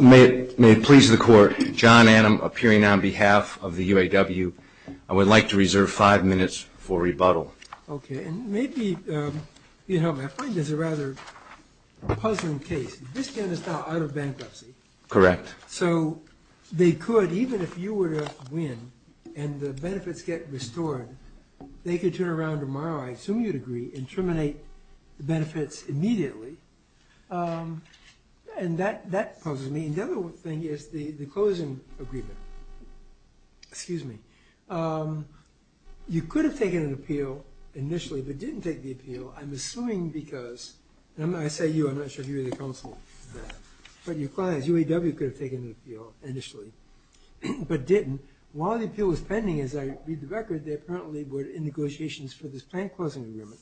May it please the Court, John Annam appearing on behalf of the UAW. I would like to reserve five minutes for rebuttal. Okay, and maybe, you know, I find this a rather puzzling case. This ban is now out of bankruptcy. Correct. So they could, even if you were to win and the benefits get restored, they could turn around tomorrow, I assume you'd agree, and terminate the benefits immediately. And that puzzles me. And the other thing is the closing agreement. Excuse me. You could have taken an appeal initially but didn't take the appeal, I'm assuming because, and I say you, I'm not sure if you're the counsel for that, but your clients, UAW, could have taken an appeal initially but didn't. And while the appeal was pending, as I read the record, they apparently were in negotiations for this plant closing agreement.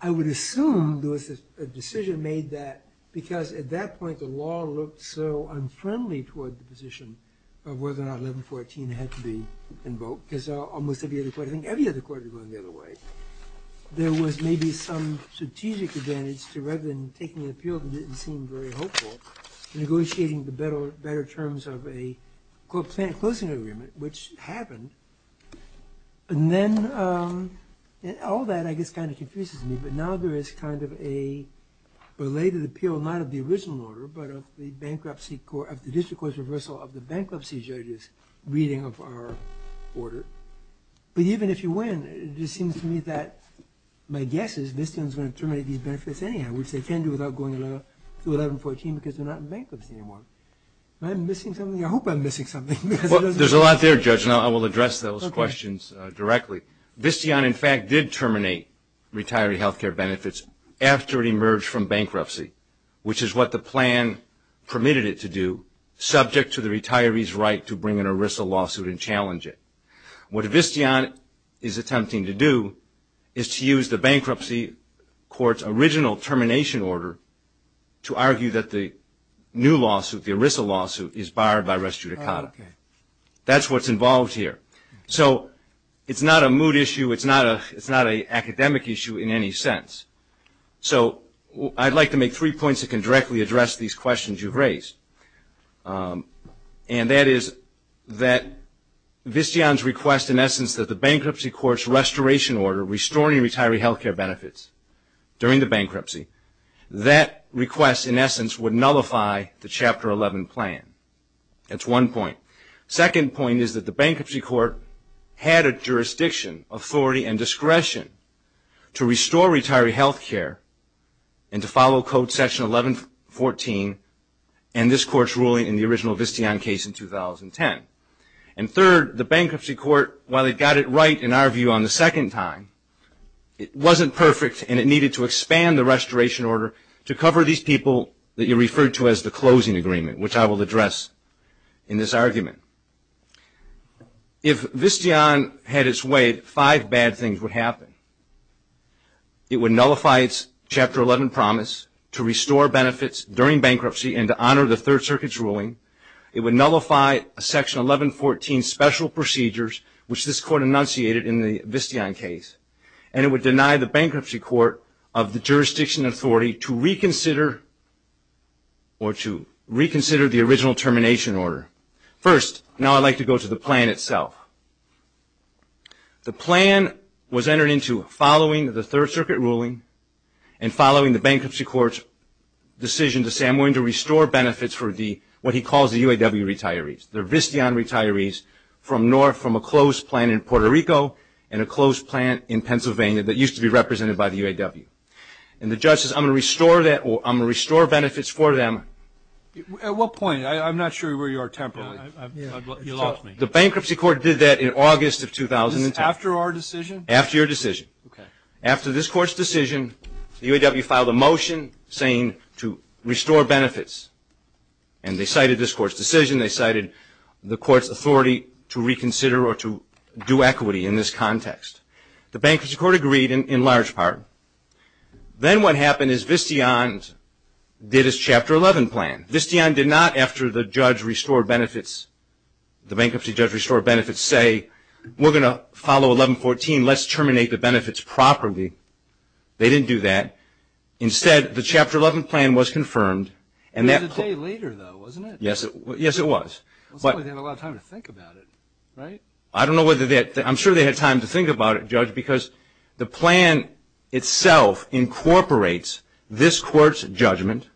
I would assume there was a decision made that, because at that point the law looked so unfriendly toward the position of whether or not 1114 had to be invoked, because almost every other court, I think every other court, was going the other way. There was maybe some strategic advantage to rather than taking an appeal that didn't seem very hopeful, negotiating the better terms of a plant closing agreement, which happened. And then all that, I guess, kind of confuses me. But now there is kind of a belated appeal, not of the original order, but of the bankruptcy court, of the district court's reversal of the bankruptcy judge's reading of our order. But even if you win, it just seems to me that my guess is they're going to terminate these benefits anyhow, which they can't do without going to 1114 because they're not in bankruptcy anymore. Am I missing something? I hope I'm missing something. There's a lot there, Judge, and I will address those questions directly. Visteon, in fact, did terminate retiree health care benefits after it emerged from bankruptcy, which is what the plan permitted it to do, subject to the retiree's right to bring in a WRISA lawsuit and challenge it. What Visteon is attempting to do is to use the bankruptcy court's original termination order to argue that the new lawsuit, the WRISA lawsuit, is barred by res judicata. That's what's involved here. So it's not a mood issue. It's not an academic issue in any sense. So I'd like to make three points that can directly address these questions you've raised, and that is that Visteon's request, in essence, that the bankruptcy court's restoration order restoring retiree health care benefits during the bankruptcy, that request, in essence, would nullify the Chapter 11 plan. That's one point. Second point is that the bankruptcy court had a jurisdiction, authority, and discretion to restore retiree health care and to follow Code Section 1114, and this court's ruling in the original Visteon case in 2010. And third, the bankruptcy court, while it got it right in our view on the second time, it wasn't perfect and it needed to expand the restoration order to cover these people that you referred to as the closing agreement, which I will address in this argument. If Visteon had its way, five bad things would happen. It would nullify its Chapter 11 promise to restore benefits during bankruptcy and to honor the Third Circuit's ruling. It would nullify Section 1114 special procedures, which this court enunciated in the Visteon case, and it would deny the bankruptcy court of the jurisdiction authority to reconsider or to reconsider the original termination order. First, now I'd like to go to the plan itself. The plan was entered into following the Third Circuit ruling and following the bankruptcy court's decision to say I'm going to restore benefits for what he calls the UAW retirees, the Visteon retirees from a closed plant in Puerto Rico and a closed plant in Pennsylvania that used to be represented by the UAW. And the judge says I'm going to restore benefits for them. At what point? I'm not sure where you are temporarily. You lost me. The bankruptcy court did that in August of 2010. After our decision? After your decision. Okay. After this court's decision, the UAW filed a motion saying to restore benefits. And they cited this court's decision. They cited the court's authority to reconsider or to do equity in this context. The bankruptcy court agreed in large part. Then what happened is Visteon did its Chapter 11 plan. Visteon did not, after the judge restored benefits, the bankruptcy judge restored benefits, say we're going to follow 1114, let's terminate the benefits properly. They didn't do that. Instead, the Chapter 11 plan was confirmed. It was a day later, though, wasn't it? Yes, it was. It looks like they had a lot of time to think about it, right? I don't know whether they had time. I'm sure they had time to think about it, Judge, because the plan itself incorporates this court's judgment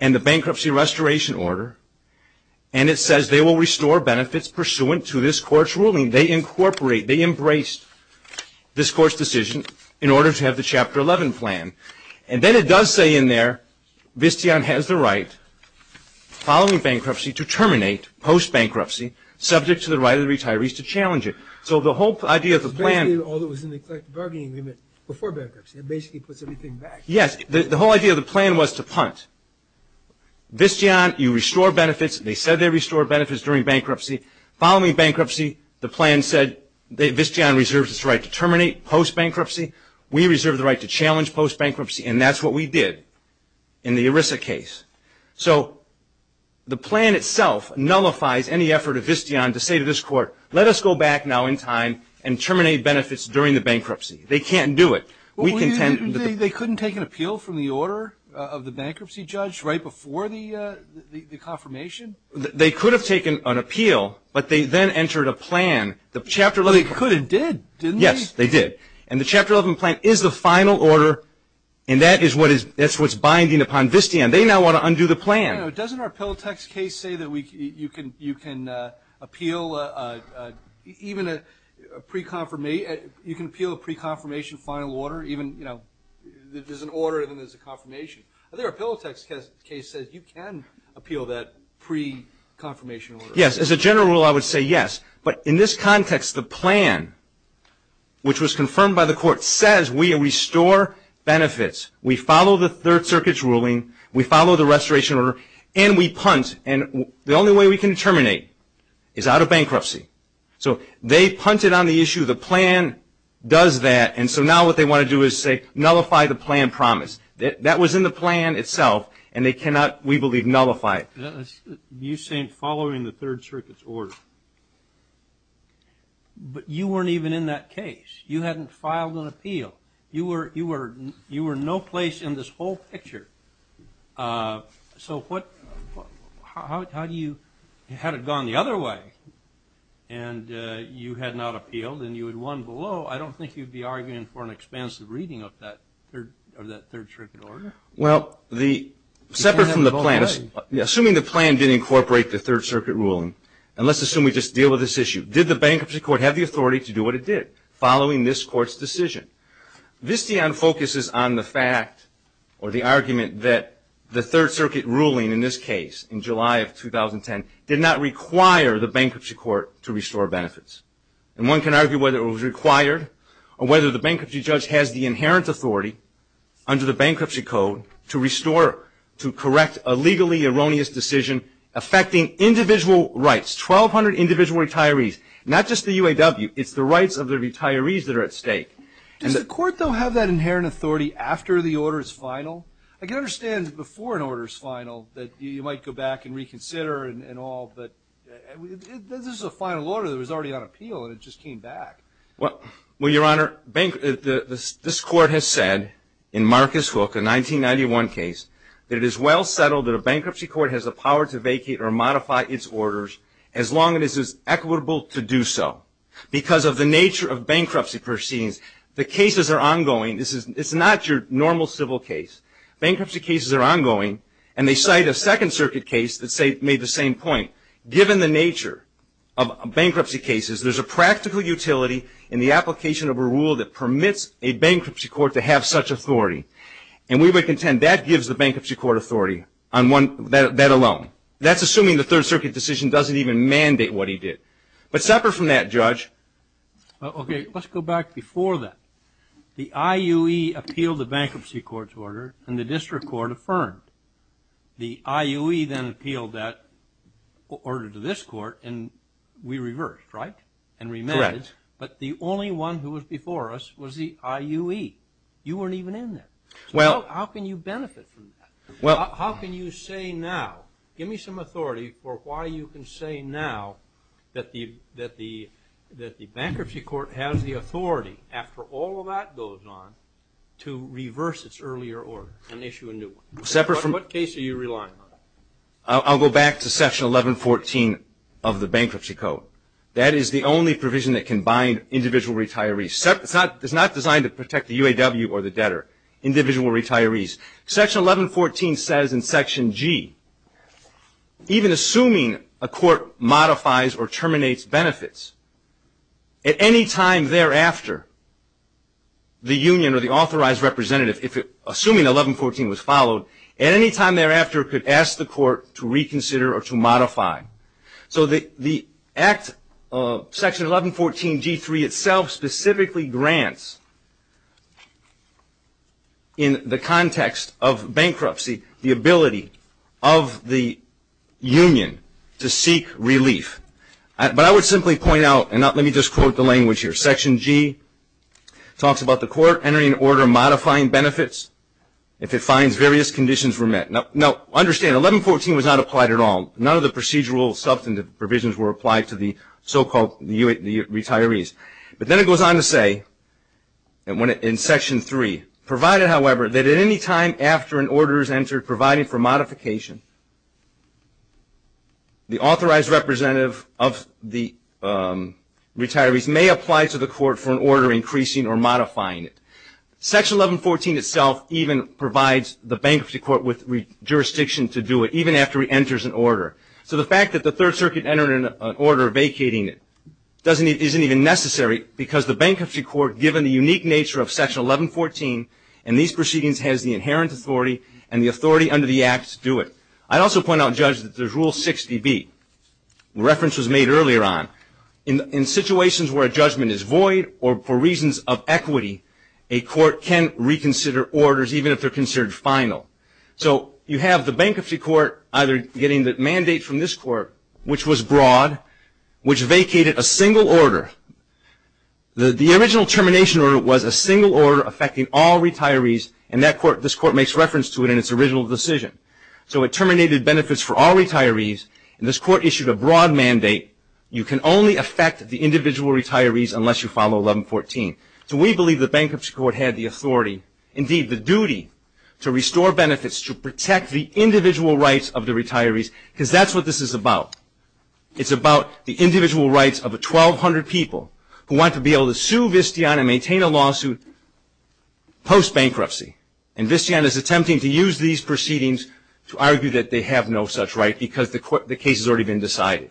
and the bankruptcy restoration order, and it says they will restore benefits pursuant to this court's ruling. They incorporate, they embrace this court's decision in order to have the Chapter 11 plan. And then it does say in there, Visteon has the right, following bankruptcy, to terminate post-bankruptcy subject to the right of the retirees to challenge it. So the whole idea of the plan. Basically, all that was in the bargaining agreement before bankruptcy. It basically puts everything back. Yes. The whole idea of the plan was to punt. Visteon, you restore benefits. They said they restored benefits during bankruptcy. Following bankruptcy, the plan said Visteon reserves its right to terminate post-bankruptcy. We reserve the right to challenge post-bankruptcy, and that's what we did in the ERISA case. So the plan itself nullifies any effort of Visteon to say to this court, let us go back now in time and terminate benefits during the bankruptcy. They can't do it. They couldn't take an appeal from the order of the bankruptcy judge right before the confirmation? They could have taken an appeal, but they then entered a plan. They could have did, didn't they? Yes, they did. And the Chapter 11 plan is the final order, and that is what's binding upon Visteon. They now want to undo the plan. Doesn't our Pilatex case say that you can appeal a pre-confirmation final order? There's an order and then there's a confirmation. I think our Pilatex case says you can appeal that pre-confirmation order. Yes. As a general rule, I would say yes. But in this context, the plan, which was confirmed by the court, says we restore benefits. We follow the Third Circuit's ruling. We follow the restoration order, and we punt. And the only way we can terminate is out of bankruptcy. So they punted on the issue. The plan does that. And so now what they want to do is say nullify the plan promise. That was in the plan itself, and they cannot, we believe, nullify it. You're saying following the Third Circuit's order. But you weren't even in that case. You hadn't filed an appeal. You were no place in this whole picture. So how do you, had it gone the other way and you had not appealed and you had won below, I don't think you'd be arguing for an expansive reading of that Third Circuit order. Well, separate from the plan, assuming the plan didn't incorporate the Third Circuit ruling, and let's assume we just deal with this issue, did the bankruptcy court have the authority to do what it did following this court's decision? Visteon focuses on the fact or the argument that the Third Circuit ruling in this case, in July of 2010, did not require the bankruptcy court to restore benefits. And one can argue whether it was required or whether the bankruptcy judge has the inherent authority under the bankruptcy code to restore, to correct a legally erroneous decision affecting individual rights. That's 1,200 individual retirees, not just the UAW. It's the rights of the retirees that are at stake. Does the court, though, have that inherent authority after the order's final? I can understand before an order's final that you might go back and reconsider and all, but this is a final order that was already on appeal and it just came back. Well, Your Honor, this court has said in Marcus Hook, a 1991 case, that it is well settled that a bankruptcy court has the power to vacate or modify its orders as long as it is equitable to do so. Because of the nature of bankruptcy proceedings, the cases are ongoing. This is not your normal civil case. Bankruptcy cases are ongoing, and they cite a Second Circuit case that made the same point. Given the nature of bankruptcy cases, there's a practical utility in the application of a rule that permits a bankruptcy court to have such authority. And we would contend that gives the bankruptcy court authority on that alone. That's assuming the Third Circuit decision doesn't even mandate what he did. But separate from that, Judge. Okay. Let's go back before that. The IUE appealed the bankruptcy court's order, and the district court affirmed. The IUE then appealed that order to this court, and we reversed, right, and remanded. Correct. But the only one who was before us was the IUE. You weren't even in there. So how can you benefit from that? How can you say now, give me some authority for why you can say now that the bankruptcy court has the authority, after all of that goes on, to reverse its earlier order and issue a new one? What case are you relying on? I'll go back to Section 1114 of the Bankruptcy Code. That is the only provision that can bind individual retirees. It's not designed to protect the UAW or the debtor, individual retirees. Section 1114 says in Section G, even assuming a court modifies or terminates benefits, at any time thereafter, the union or the authorized representative, assuming 1114 was followed, at any time thereafter could ask the court to reconsider or to modify. So the Act of Section 1114G3 itself specifically grants, in the context of bankruptcy, the ability of the union to seek relief. But I would simply point out, and let me just quote the language here, Section G talks about the court entering an order modifying benefits if it finds various conditions were met. Now, understand, 1114 was not applied at all. None of the procedural substantive provisions were applied to the so-called retirees. But then it goes on to say, in Section 3, provided, however, that at any time after an order is entered providing for modification, the authorized representative of the retirees may apply to the court for an order increasing or modifying it. Section 1114 itself even provides the bankruptcy court with jurisdiction to do it, even after it enters an order. So the fact that the Third Circuit entered an order vacating it isn't even necessary because the bankruptcy court, given the unique nature of Section 1114 and these proceedings has the inherent authority and the authority under the Act to do it. I'd also point out, Judge, that there's Rule 60B. A reference was made earlier on. In situations where a judgment is void or for reasons of equity, a court can reconsider orders, even if they're considered final. So you have the bankruptcy court either getting the mandate from this court, which was broad, which vacated a single order. The original termination order was a single order affecting all retirees, and this court makes reference to it in its original decision. So it terminated benefits for all retirees, and this court issued a broad mandate. You can only affect the individual retirees unless you follow 1114. So we believe the bankruptcy court had the authority, indeed the duty, to restore benefits to protect the individual rights of the retirees because that's what this is about. It's about the individual rights of 1,200 people who want to be able to sue Vistian and maintain a lawsuit post-bankruptcy. And Vistian is attempting to use these proceedings to argue that they have no such right because the case has already been decided.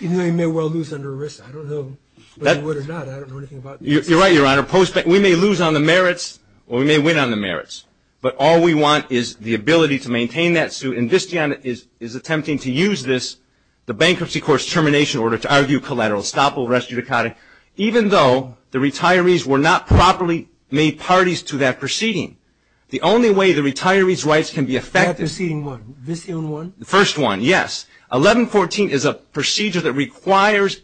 Even though he may well lose under arrest. I don't know whether he would or not. I don't know anything about that. You're right, Your Honor. We may lose on the merits or we may win on the merits, but all we want is the ability to maintain that suit, and Vistian is attempting to use this, the bankruptcy court's termination order, to argue collateral estoppel, res judicata, even though the retirees were not properly made parties to that proceeding. The only way the retirees' rights can be affected. That proceeding one. Vistian one? The first one, yes. 1114 is a procedure that requires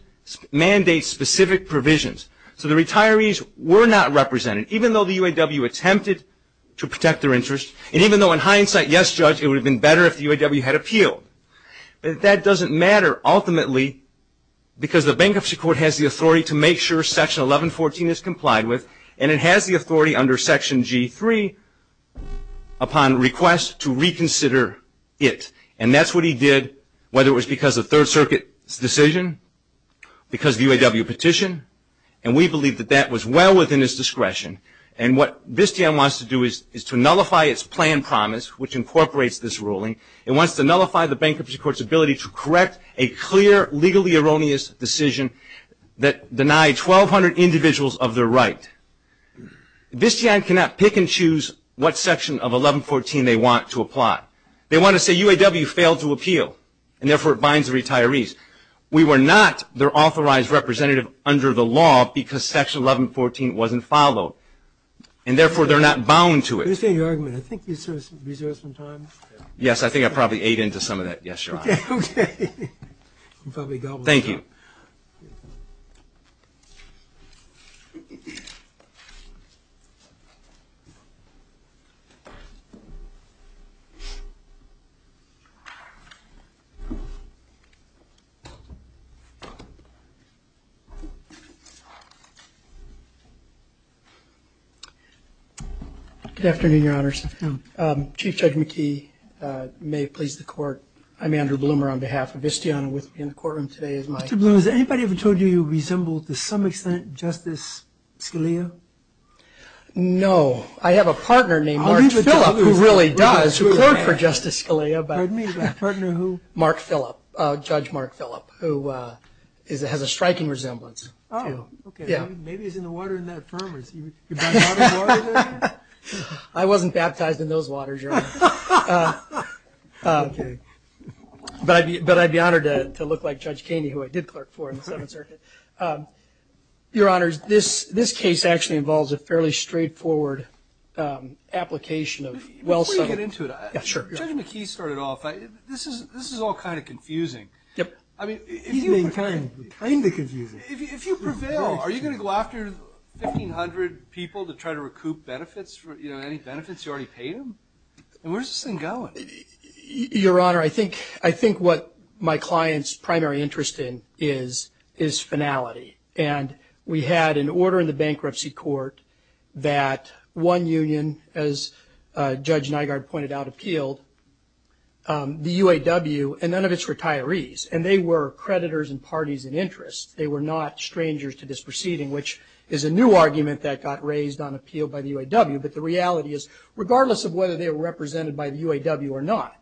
mandate-specific provisions. So the retirees were not represented, even though the UAW attempted to protect their interests, and even though in hindsight, yes, Judge, it would have been better if the UAW had appealed. But that doesn't matter ultimately because the bankruptcy court has the authority to make sure Section 1114 is complied with, and it has the authority under Section G3 upon request to reconsider it. And that's what he did, whether it was because of Third Circuit's decision, because of UAW petition, and we believe that that was well within his discretion. And what Vistian wants to do is to nullify its planned promise, which incorporates this ruling. It wants to nullify the bankruptcy court's ability to correct a clear, 1,200 individuals of their right. Vistian cannot pick and choose what Section of 1114 they want to apply. They want to say UAW failed to appeal, and therefore it binds the retirees. We were not their authorized representative under the law because Section 1114 wasn't followed, and therefore they're not bound to it. I understand your argument. I think you sort of reserved some time. Yes, I think I probably ate into some of that yesterday. Okay. Thank you. Good afternoon, Your Honors. Chief Judge McKee, may it please the Court, I'm Andrew Bloomer on behalf of Vistian. With me in the courtroom today is Mike. Mr. Bloomer, has anybody ever told you you resemble to some extent Justice Scalia? No. I have a partner named Mark Phillip who really does, who clerked for Justice Scalia. Pardon me, but a partner who? Mark Phillip, Judge Mark Phillip, who has a striking resemblance. Oh, okay. Yeah. Maybe he's in the water in that firm. Have you been in water there? I wasn't baptized in those waters, Your Honor. Okay. But I'd be honored to look like Judge Kaney, who I did clerk for in the Seventh Circuit. Your Honors, this case actually involves a fairly straightforward application of well-settled. Before you get into it, Judge McKee started off, this is all kind of confusing. Yep. I mean, if you prevail, are you going to go after 1,500 people to try to recoup benefits, you know, any benefits you already paid them? Where's this thing going? Your Honor, I think what my client's primary interest in is finality. And we had an order in the bankruptcy court that one union, as Judge Nygaard pointed out, appealed, the UAW, and none of its retirees, and they were creditors and parties in interest. They were not strangers to this proceeding, which is a new argument that got raised on appeal by the UAW. But the reality is, regardless of whether they were represented by the UAW or not,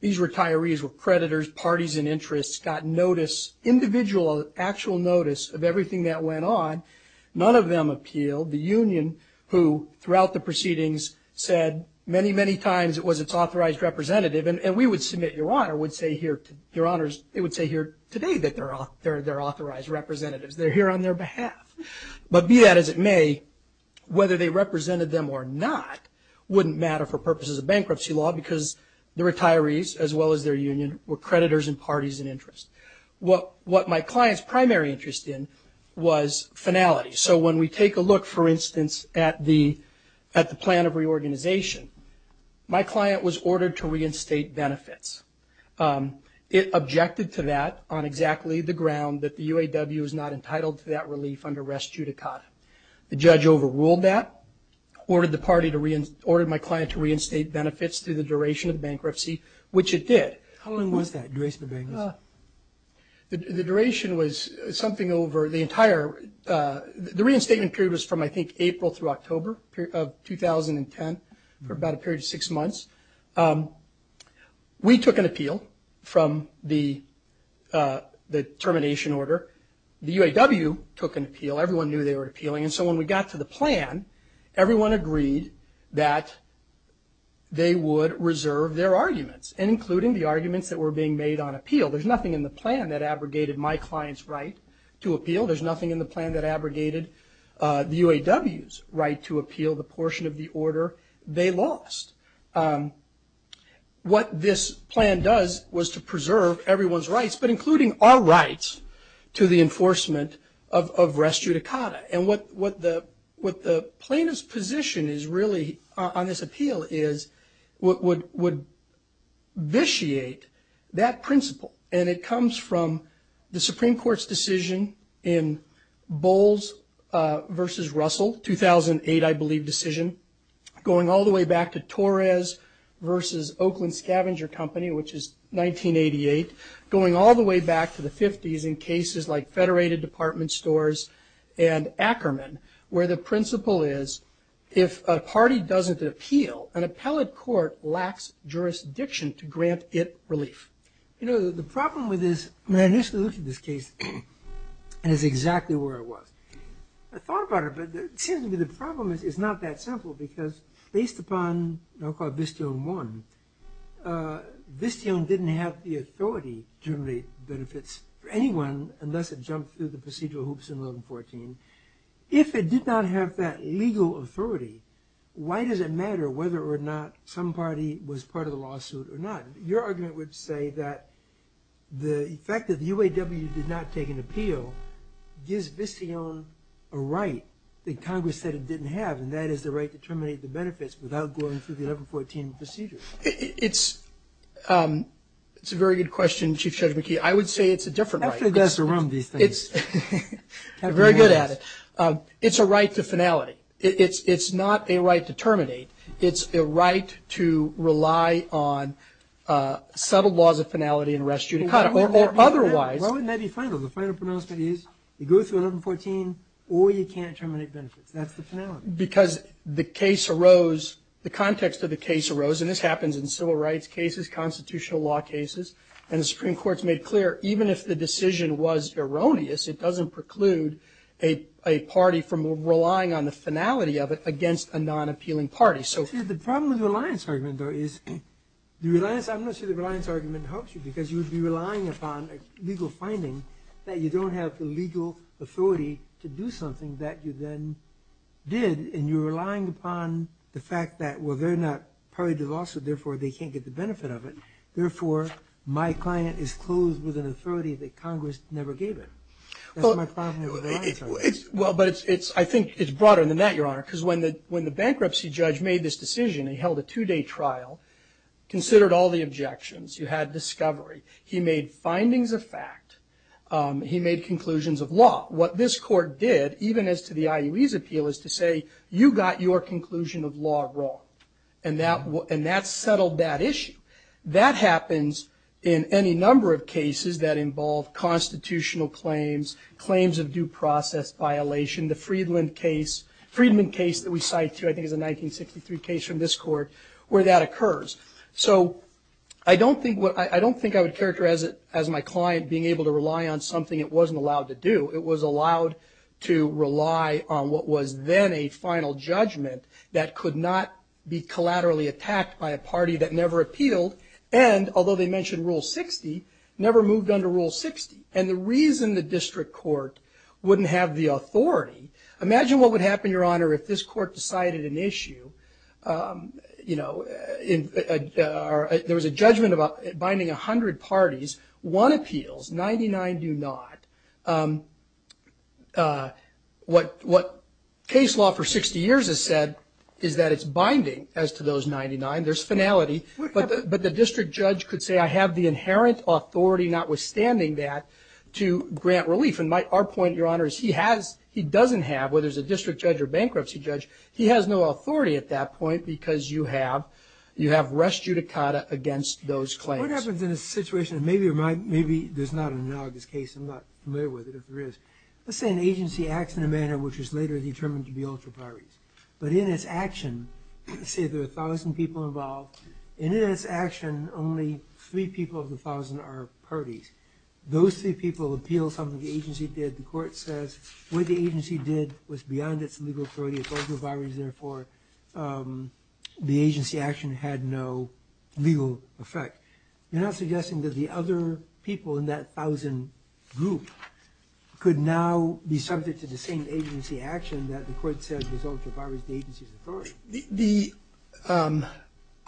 these retirees were creditors, parties in interest, got notice, individual actual notice, of everything that went on. None of them appealed. The union, who, throughout the proceedings, said many, many times it was its authorized representative. And we would submit, Your Honor, would say here today that they're authorized representatives. They're here on their behalf. But be that as it may, whether they represented them or not wouldn't matter for purposes of bankruptcy law because the retirees, as well as their union, were creditors and parties in interest. What my client's primary interest in was finality. So when we take a look, for instance, at the plan of reorganization, my client was ordered to reinstate benefits. It objected to that on exactly the ground that the UAW is not entitled to that relief under res judicata. The judge overruled that, ordered my client to reinstate benefits through the duration of bankruptcy, which it did. How long was that, duration of bankruptcy? The duration was something over the entire – the reinstatement period was from, I think, April through October of 2010 for about a period of six months. We took an appeal from the termination order. The UAW took an appeal. Everyone knew they were appealing. And so when we got to the plan, everyone agreed that they would reserve their arguments, including the arguments that were being made on appeal. There's nothing in the plan that abrogated my client's right to appeal. There's nothing in the plan that abrogated the UAW's right to appeal the portion of the order they lost. What this plan does was to preserve everyone's rights, but including our rights to the enforcement of res judicata. And what the plaintiff's position is really on this appeal is would vitiate that principle. And it comes from the Supreme Court's decision in Bowles v. Russell, 2008, I believe, decision, going all the way back to Torres v. Oakland Scavenger Company, which is 1988, going all the way back to the 50s in cases like Federated Department Stores and Ackerman, where the principle is if a party doesn't appeal, an appellate court lacks jurisdiction to grant it relief. You know, the problem with this – when I initially looked at this case, it was exactly where it was. I thought about it, but it seems to me the problem is it's not that simple, because based upon what I'll call Visteon 1, Visteon didn't have the authority to generate benefits for anyone unless it jumped through the procedural hoops in 1114. If it did not have that legal authority, why does it matter whether or not some party was part of the lawsuit or not? Your argument would say that the fact that the UAW did not take an appeal gives Visteon a right that Congress said it didn't have, and that is the right to terminate the benefits without going through the 1114 procedure. It's a very good question, Chief Judge McKee. I would say it's a different right. After you've asked around these things. I'm very good at it. It's a right to finality. It's not a right to terminate. It's a right to rely on subtle laws of finality and res judicata, or otherwise. Why wouldn't that be final? The final pronouncement is you go through 1114 or you can't terminate benefits. That's the finality. Because the case arose, the context of the case arose, and this happens in civil rights cases, constitutional law cases, and the Supreme Court's made clear even if the decision was erroneous, it doesn't preclude a party from relying on the finality of it against a non-appealing party. The problem with the reliance argument, though, is the reliance argument helps you because you would be relying upon a legal finding that you don't have the legal authority to do something that you then did, and you're relying upon the fact that, well, they're not party to the lawsuit, therefore they can't get the benefit of it. Therefore, my client is closed with an authority that Congress never gave him. That's my problem with the reliance argument. Well, but I think it's broader than that, Your Honor, because when the bankruptcy judge made this decision, he held a two-day trial, considered all the objections. You had discovery. He made findings of fact. He made conclusions of law. What this court did, even as to the IUE's appeal, is to say you got your conclusion of law wrong, and that settled that issue. That happens in any number of cases that involve constitutional claims, claims of due process violation. The Friedman case that we cite here, I think it's a 1963 case from this court, where that occurs. So I don't think I would characterize it as my client being able to rely on something it wasn't allowed to do. It was allowed to rely on what was then a final judgment that could not be collaterally attacked by a party that never appealed, and although they mentioned Rule 60, never moved under Rule 60. And the reason the district court wouldn't have the authority, imagine what would happen, Your Honor, if this court decided an issue. You know, there was a judgment binding 100 parties. One appeals, 99 do not. What case law for 60 years has said is that it's binding as to those 99. There's finality. But the district judge could say I have the inherent authority, notwithstanding that, to grant relief. And our point, Your Honor, is he doesn't have, whether it's a district judge or bankruptcy judge, he has no authority at that point because you have res judicata against those claims. What happens in a situation, and maybe there's not an analogous case, I'm not familiar with it, if there is. Let's say an agency acts in a manner which is later determined to be ultra-priorities. But in its action, let's say there are 1,000 people involved, and in its action only three people of the 1,000 are parties. Those three people appeal something the agency did. The court says what the agency did was beyond its legal authority. It's ultra-priorities. Therefore, the agency action had no legal effect. You're not suggesting that the other people in that 1,000 group could now be subject to the same agency action that the court said was ultra-priorities of the agency's authority.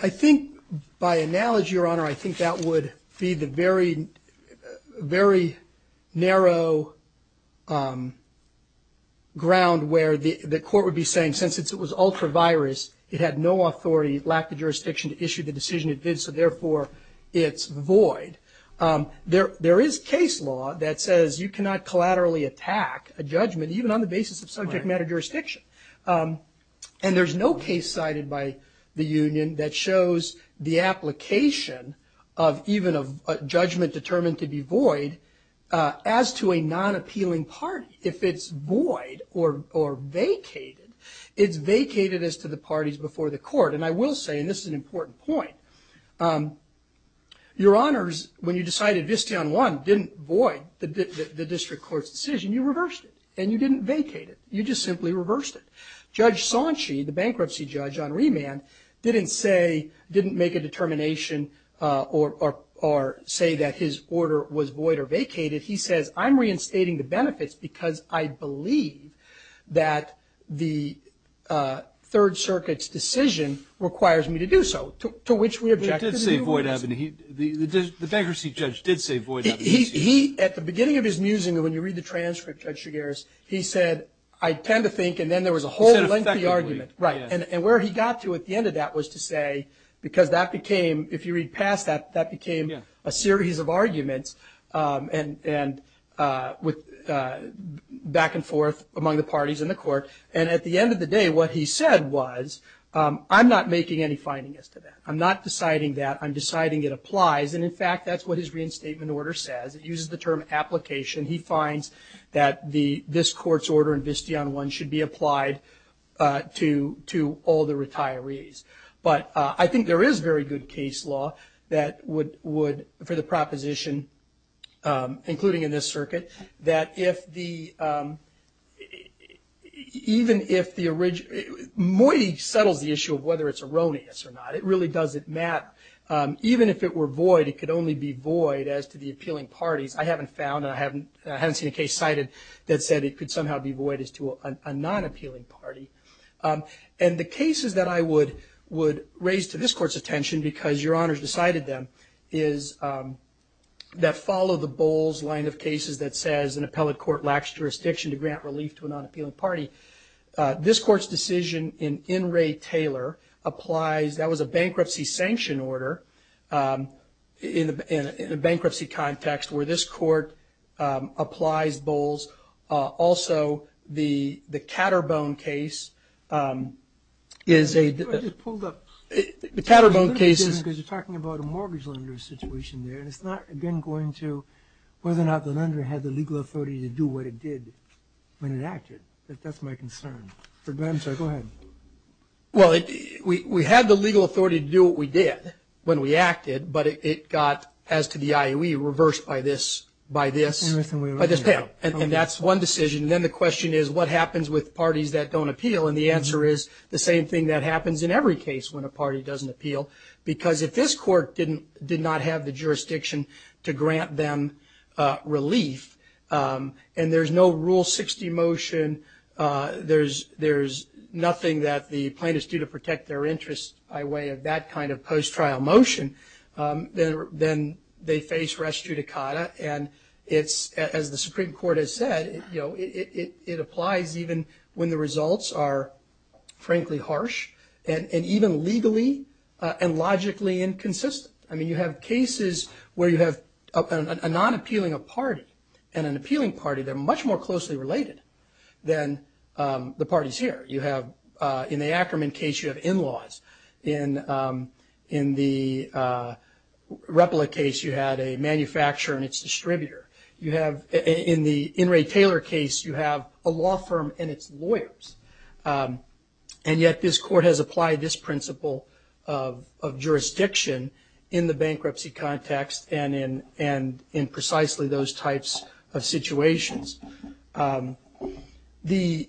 I think by analogy, Your Honor, I think that would be the very, very narrow ground where the court would be saying since it was ultra-virus, it had no authority, it lacked the jurisdiction to issue the decision it did, so therefore it's void. There is case law that says you cannot collaterally attack a judgment, even on the basis of subject matter jurisdiction. And there's no case cited by the union that shows the application of even a judgment determined to be void as to a non-appealing party. If it's void or vacated, it's vacated as to the parties before the court. And I will say, and this is an important point, Your Honors, when you decided Visteon 1 didn't void the district court's decision, you reversed it, and you didn't vacate it. You just simply reversed it. Judge Sanchi, the bankruptcy judge on remand, didn't say, didn't make a determination or say that his order was void or vacated. He says, I'm reinstating the benefits because I believe that the Third Circuit's decision requires me to do so, to which we object to the new rules. He did say void. The bankruptcy judge did say void. He, at the beginning of his musing, when you read the transcript, Judge Chigares, he said, I tend to think, and then there was a whole lengthy argument. And where he got to at the end of that was to say, because that became, if you read past that, that became a series of arguments back and forth among the parties in the court. And at the end of the day, what he said was, I'm not making any findings to that. I'm not deciding that. I'm deciding it applies. And, in fact, that's what his reinstatement order says. It uses the term application. He finds that this court's order in Bistion I should be applied to all the retirees. But I think there is very good case law that would, for the proposition, including in this circuit, that if the, even if the, Moiti settles the issue of whether it's erroneous or not. It really doesn't matter. Even if it were void, it could only be void as to the appealing parties. I haven't found, and I haven't seen a case cited that said it could somehow be void as to a non-appealing party. And the cases that I would raise to this court's attention, because Your Honors decided them, is that follow the Bowles line of cases that says an appellate court lacks jurisdiction to grant relief to a non-appealing party. This court's decision in Ray Taylor applies. That was a bankruptcy sanction order in a bankruptcy context where this court applies Bowles. Also, the Caterbone case is a. I just pulled up. The Caterbone case is. Because you're talking about a mortgage lender situation there. And it's not, again, going to whether or not the lender had the legal authority to do what it did when it acted. That's my concern. I'm sorry. Go ahead. Well, we had the legal authority to do what we did when we acted. But it got, as to the IOE, reversed by this. Everything we raised. And that's one decision. And then the question is, what happens with parties that don't appeal? And the answer is the same thing that happens in every case when a party doesn't appeal. Because if this court did not have the jurisdiction to grant them relief, and there's no Rule 60 motion, there's nothing that the plaintiffs do to protect their interests by way of that kind of post-trial motion, then they face res judicata. And it's, as the Supreme Court has said, it applies even when the results are, frankly, harsh, and even legally and logically inconsistent. I mean, you have cases where you have a non-appealing party and an appealing party. They're much more closely related than the parties here. You have, in the Ackerman case, you have in-laws. In the Repla case, you had a manufacturer and its distributor. In the In re Taylor case, you have a law firm and its lawyers. And yet this court has applied this principle of jurisdiction in the bankruptcy context and in precisely those types of situations. This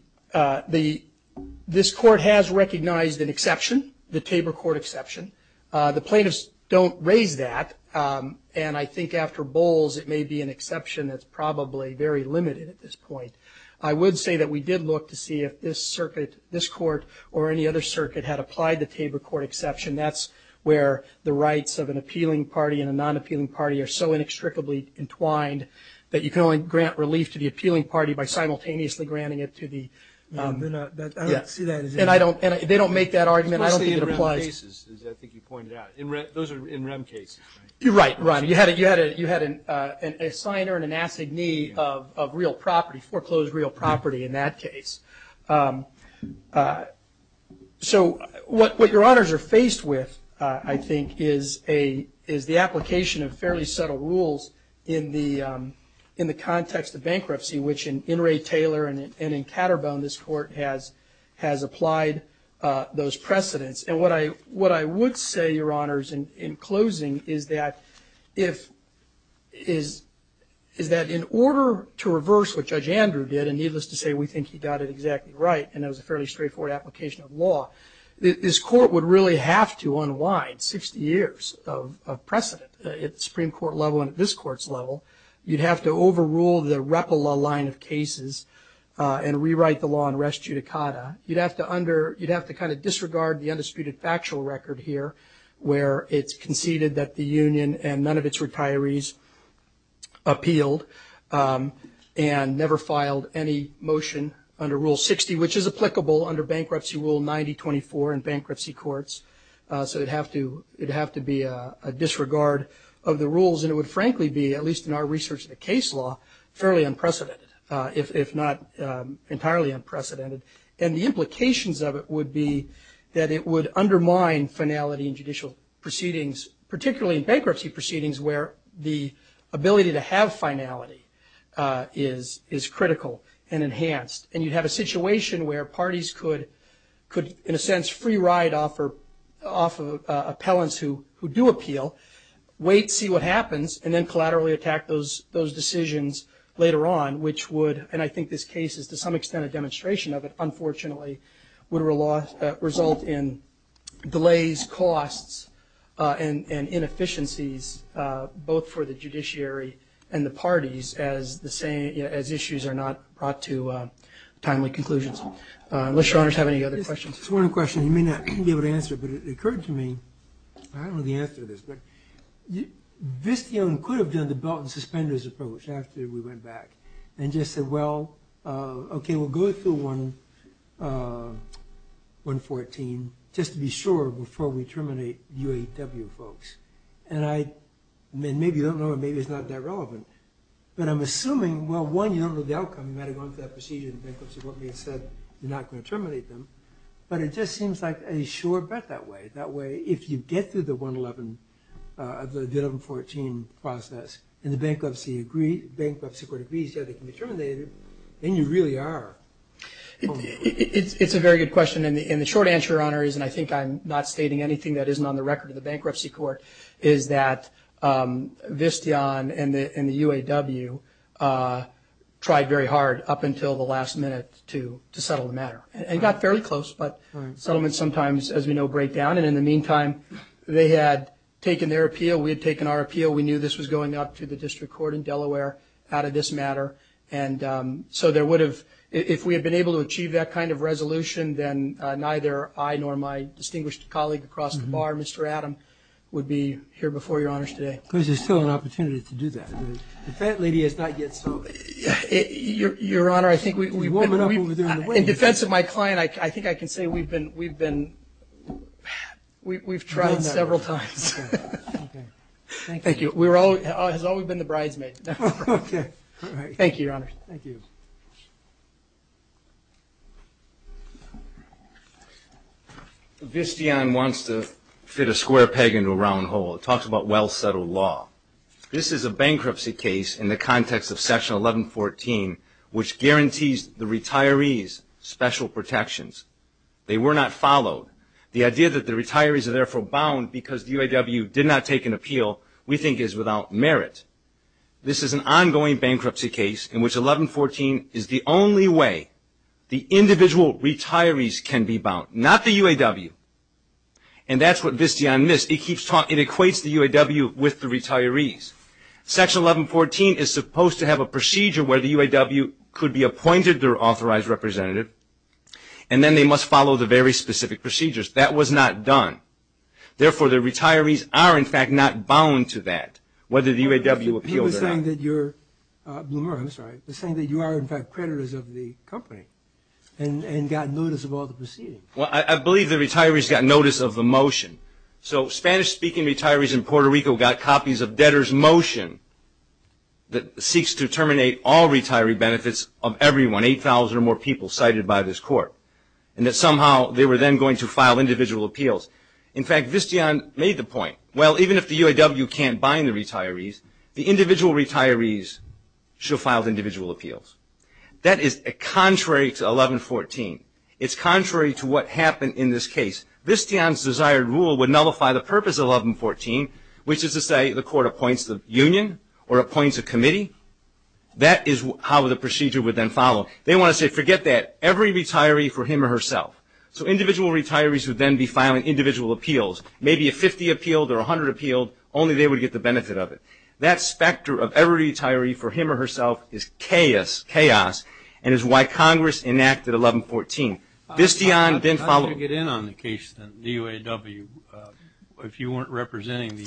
court has recognized an exception, the Tabor Court exception. The plaintiffs don't raise that. And I think after Bowles, it may be an exception that's probably very limited at this point. I would say that we did look to see if this circuit, this court, or any other circuit had applied the Tabor Court exception. That's where the rights of an appealing party and a non-appealing party are so inextricably entwined that you can only grant relief to the appealing party by simultaneously granting it to the ‑‑ I don't see that as a ‑‑ And they don't make that argument. I don't think it applies. Especially in REM cases, as I think you pointed out. Those are in REM cases, right? Right, right. You had an assigner and an assignee of real property, foreclosed real property in that case. So what your honors are faced with, I think, is the application of fairly subtle rules in the context of bankruptcy, which in Ray Taylor and in Caterbone, this court has applied those precedents. And what I would say, your honors, in closing, is that in order to reverse what Judge Andrew did, and needless to say, we think he got it exactly right, and it was a fairly straightforward application of law, this court would really have to unwind 60 years of precedent at the Supreme Court level and at this court's level. You'd have to overrule the REPLA line of cases and rewrite the law in res judicata. You'd have to kind of disregard the undisputed factual record here, where it's conceded that the union and none of its retirees appealed and never filed any motion under Rule 60, which is applicable under Bankruptcy Rule 9024 in bankruptcy courts. So it'd have to be a disregard of the rules, and it would frankly be, at least in our research of the case law, fairly unprecedented, if not entirely unprecedented. And the implications of it would be that it would undermine finality in judicial proceedings, particularly in bankruptcy proceedings, where the ability to have finality is critical and enhanced. And you'd have a situation where parties could, in a sense, free ride off of appellants who do appeal, wait, see what happens, and then collaterally attack those decisions later on, which would, and I think this case is to some extent a demonstration of it, unfortunately, would result in delays, costs, and inefficiencies, both for the judiciary and the parties as issues are not brought to timely conclusions. Unless your honors have any other questions. There's one question you may not be able to answer, but it occurred to me, I don't know the answer to this, but Visteon could have done the belt and suspenders approach after we went back, and just said, well, okay, we'll go through 114, just to be sure before we terminate UAW folks. And I, maybe you don't know it, maybe it's not that relevant, but I'm assuming, well, one, you don't know the outcome, you might have gone through that procedure and the bankruptcy court may have said, you're not going to terminate them, but it just seems like a sure bet that way. That way, if you get through the 111, the 114 process, and the bankruptcy court agrees that they can be terminated, then you really are. It's a very good question, and the short answer, your honors, and I think I'm not stating anything that isn't on the record of the bankruptcy court, is that Visteon and the UAW tried very hard up until the last minute to settle the matter, and got fairly close, but settlements sometimes, as we know, break down, and in the meantime, they had taken their appeal, we had taken our appeal, we knew this was going up to the district court in Delaware out of this matter, and so there would have, if we had been able to achieve that kind of resolution, then neither I nor my distinguished colleague across the bar, Mr. Adam, would be here before your honors today. Because there's still an opportunity to do that. The defense lady has not yet solved it. Your honor, I think we've been, in defense of my client, I think I can say we've been, we've been, we've tried several times. Thank you. It has always been the bridesmaid. Okay. Thank you, your honors. Thank you. Visteon wants to fit a square peg into a round hole. It talks about well-settled law. This is a bankruptcy case in the context of Section 1114, which guarantees the retirees special protections. They were not followed. The idea that the retirees are therefore bound because the UAW did not take an appeal, we think is without merit. This is an ongoing bankruptcy case in which 1114 is the only way the individual retirees can be bound, not the UAW, and that's what Visteon missed. It equates the UAW with the retirees. Section 1114 is supposed to have a procedure where the UAW could be appointed their authorized representative, and then they must follow the very specific procedures. That was not done. Therefore, the retirees are, in fact, not bound to that, whether the UAW appealed or not. He was saying that you're, Blumer, I'm sorry, was saying that you are, in fact, creditors of the company and got notice of all the proceedings. Well, I believe the retirees got notice of the motion. So Spanish-speaking retirees in Puerto Rico got copies of debtor's motion that seeks to terminate all retiree benefits of everyone, 8,000 or more people cited by this court, and that somehow they were then going to file individual appeals. In fact, Visteon made the point, well, even if the UAW can't bind the retirees, the individual retirees should have filed individual appeals. That is contrary to 1114. It's contrary to what happened in this case. Visteon's desired rule would nullify the purpose of 1114, which is to say the court appoints the union or appoints a committee. That is how the procedure would then follow. They want to say forget that, every retiree for him or herself. So individual retirees would then be filing individual appeals, maybe a 50 appealed or a 100 appealed, only they would get the benefit of it. That specter of every retiree for him or herself is chaos and is why Congress enacted 1114. Visteon then followed. How did you get in on the case of the UAW if you weren't representing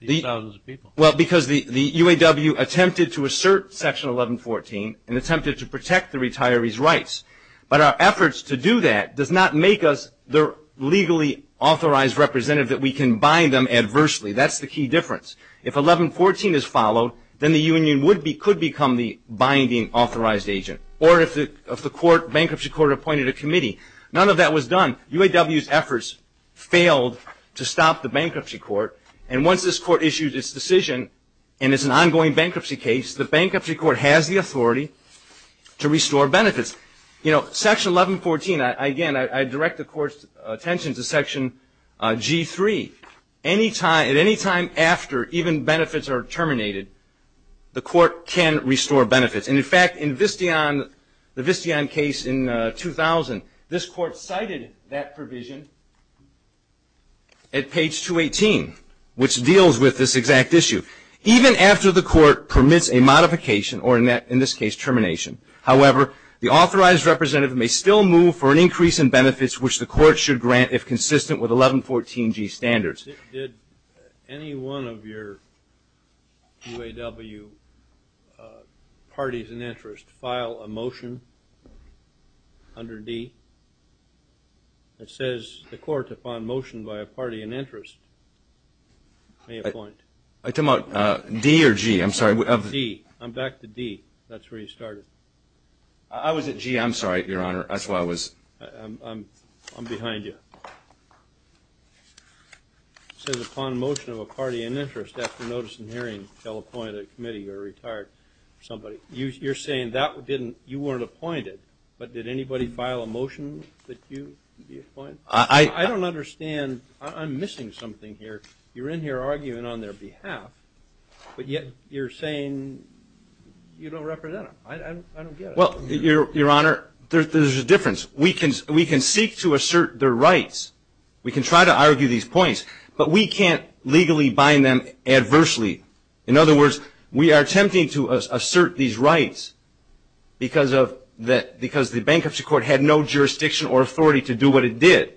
these thousands of people? Well, because the UAW attempted to assert Section 1114 and attempted to protect the retirees' rights. But our efforts to do that does not make us the legally authorized representative that we can bind them adversely. That's the key difference. If 1114 is followed, then the union could become the binding authorized agent, or if the bankruptcy court appointed a committee. None of that was done. UAW's efforts failed to stop the bankruptcy court. And once this court issued its decision and it's an ongoing bankruptcy case, the bankruptcy court has the authority to restore benefits. Section 1114, again, I direct the court's attention to Section G3. At any time after even benefits are terminated, the court can restore benefits. And, in fact, in the Visteon case in 2000, this court cited that provision at page 218, which deals with this exact issue. Even after the court permits a modification or, in this case, termination, however, the authorized representative may still move for an increase in benefits, which the court should grant if consistent with 1114G standards. Did any one of your UAW parties in interest file a motion under D that says the court upon motion by a party in interest may appoint? Are you talking about D or G? I'm sorry. D. I'm back to D. That's where you started. I was at G. I'm sorry, Your Honor. I'm behind you. It says upon motion of a party in interest after notice and hearing shall appoint a committee or a retired somebody. You're saying you weren't appointed, but did anybody file a motion that you appointed? I don't understand. I'm missing something here. You're in here arguing on their behalf, but yet you're saying you don't represent them. I don't get it. Well, Your Honor, there's a difference. We can seek to assert their rights. We can try to argue these points, but we can't legally bind them adversely. In other words, we are attempting to assert these rights because the bankruptcy court had no jurisdiction or authority to do what it did.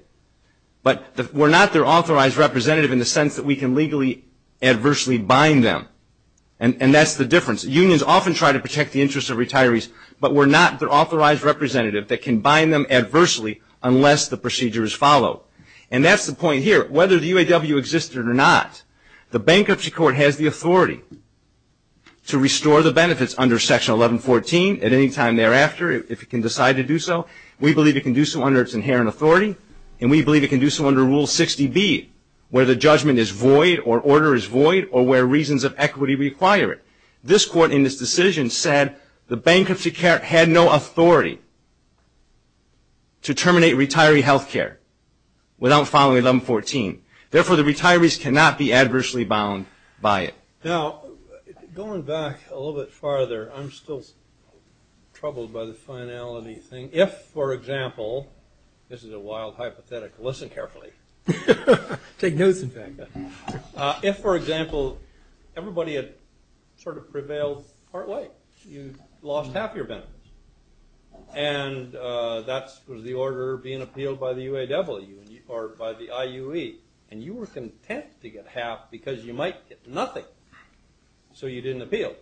But we're not their authorized representative in the sense that we can legally adversely bind them, and that's the difference. Unions often try to protect the interests of retirees, but we're not their authorized representative that can bind them adversely unless the procedure is followed. And that's the point here. Whether the UAW existed or not, the bankruptcy court has the authority to restore the benefits under Section 1114. At any time thereafter, if it can decide to do so, we believe it can do so under its inherent authority, and we believe it can do so under Rule 60B where the judgment is void or order is void or where reasons of equity require it. This court in this decision said the bankruptcy court had no authority to terminate retiree health care without following 1114. Therefore, the retirees cannot be adversely bound by it. Now, going back a little bit farther, I'm still troubled by the finality thing. If, for example, this is a wild hypothetical. Listen carefully. Take notes, in fact. If, for example, everybody had sort of prevailed partway, you lost half your benefits, and that was the order being appealed by the UAW or by the IUE, and you were content to get half because you might get nothing, so you didn't appeal.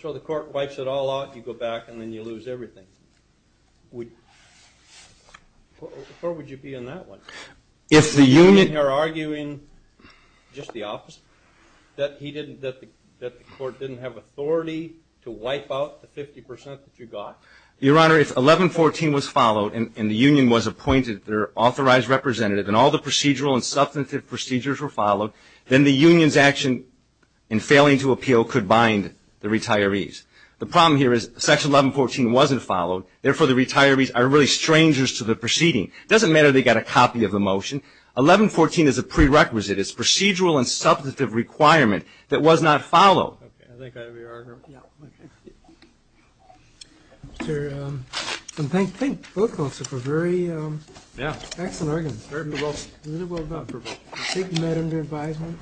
So the court wipes it all out, you go back, and then you lose everything. Where would you be in that one? You're arguing just the opposite, that the court didn't have authority to wipe out the 50% that you got. Your Honor, if 1114 was followed and the union was appointed their authorized representative and all the procedural and substantive procedures were followed, then the union's action in failing to appeal could bind the retirees. The problem here is Section 1114 wasn't followed. Therefore, the retirees are really strangers to the proceeding. It doesn't matter they got a copy of the motion. 1114 is a prerequisite. It's a procedural and substantive requirement that was not followed. Okay. I think that would be your argument. Yeah. Okay. Thank both of you for a very excellent argument. Very well done. Very well done. Thank you, Madam, for your advisement.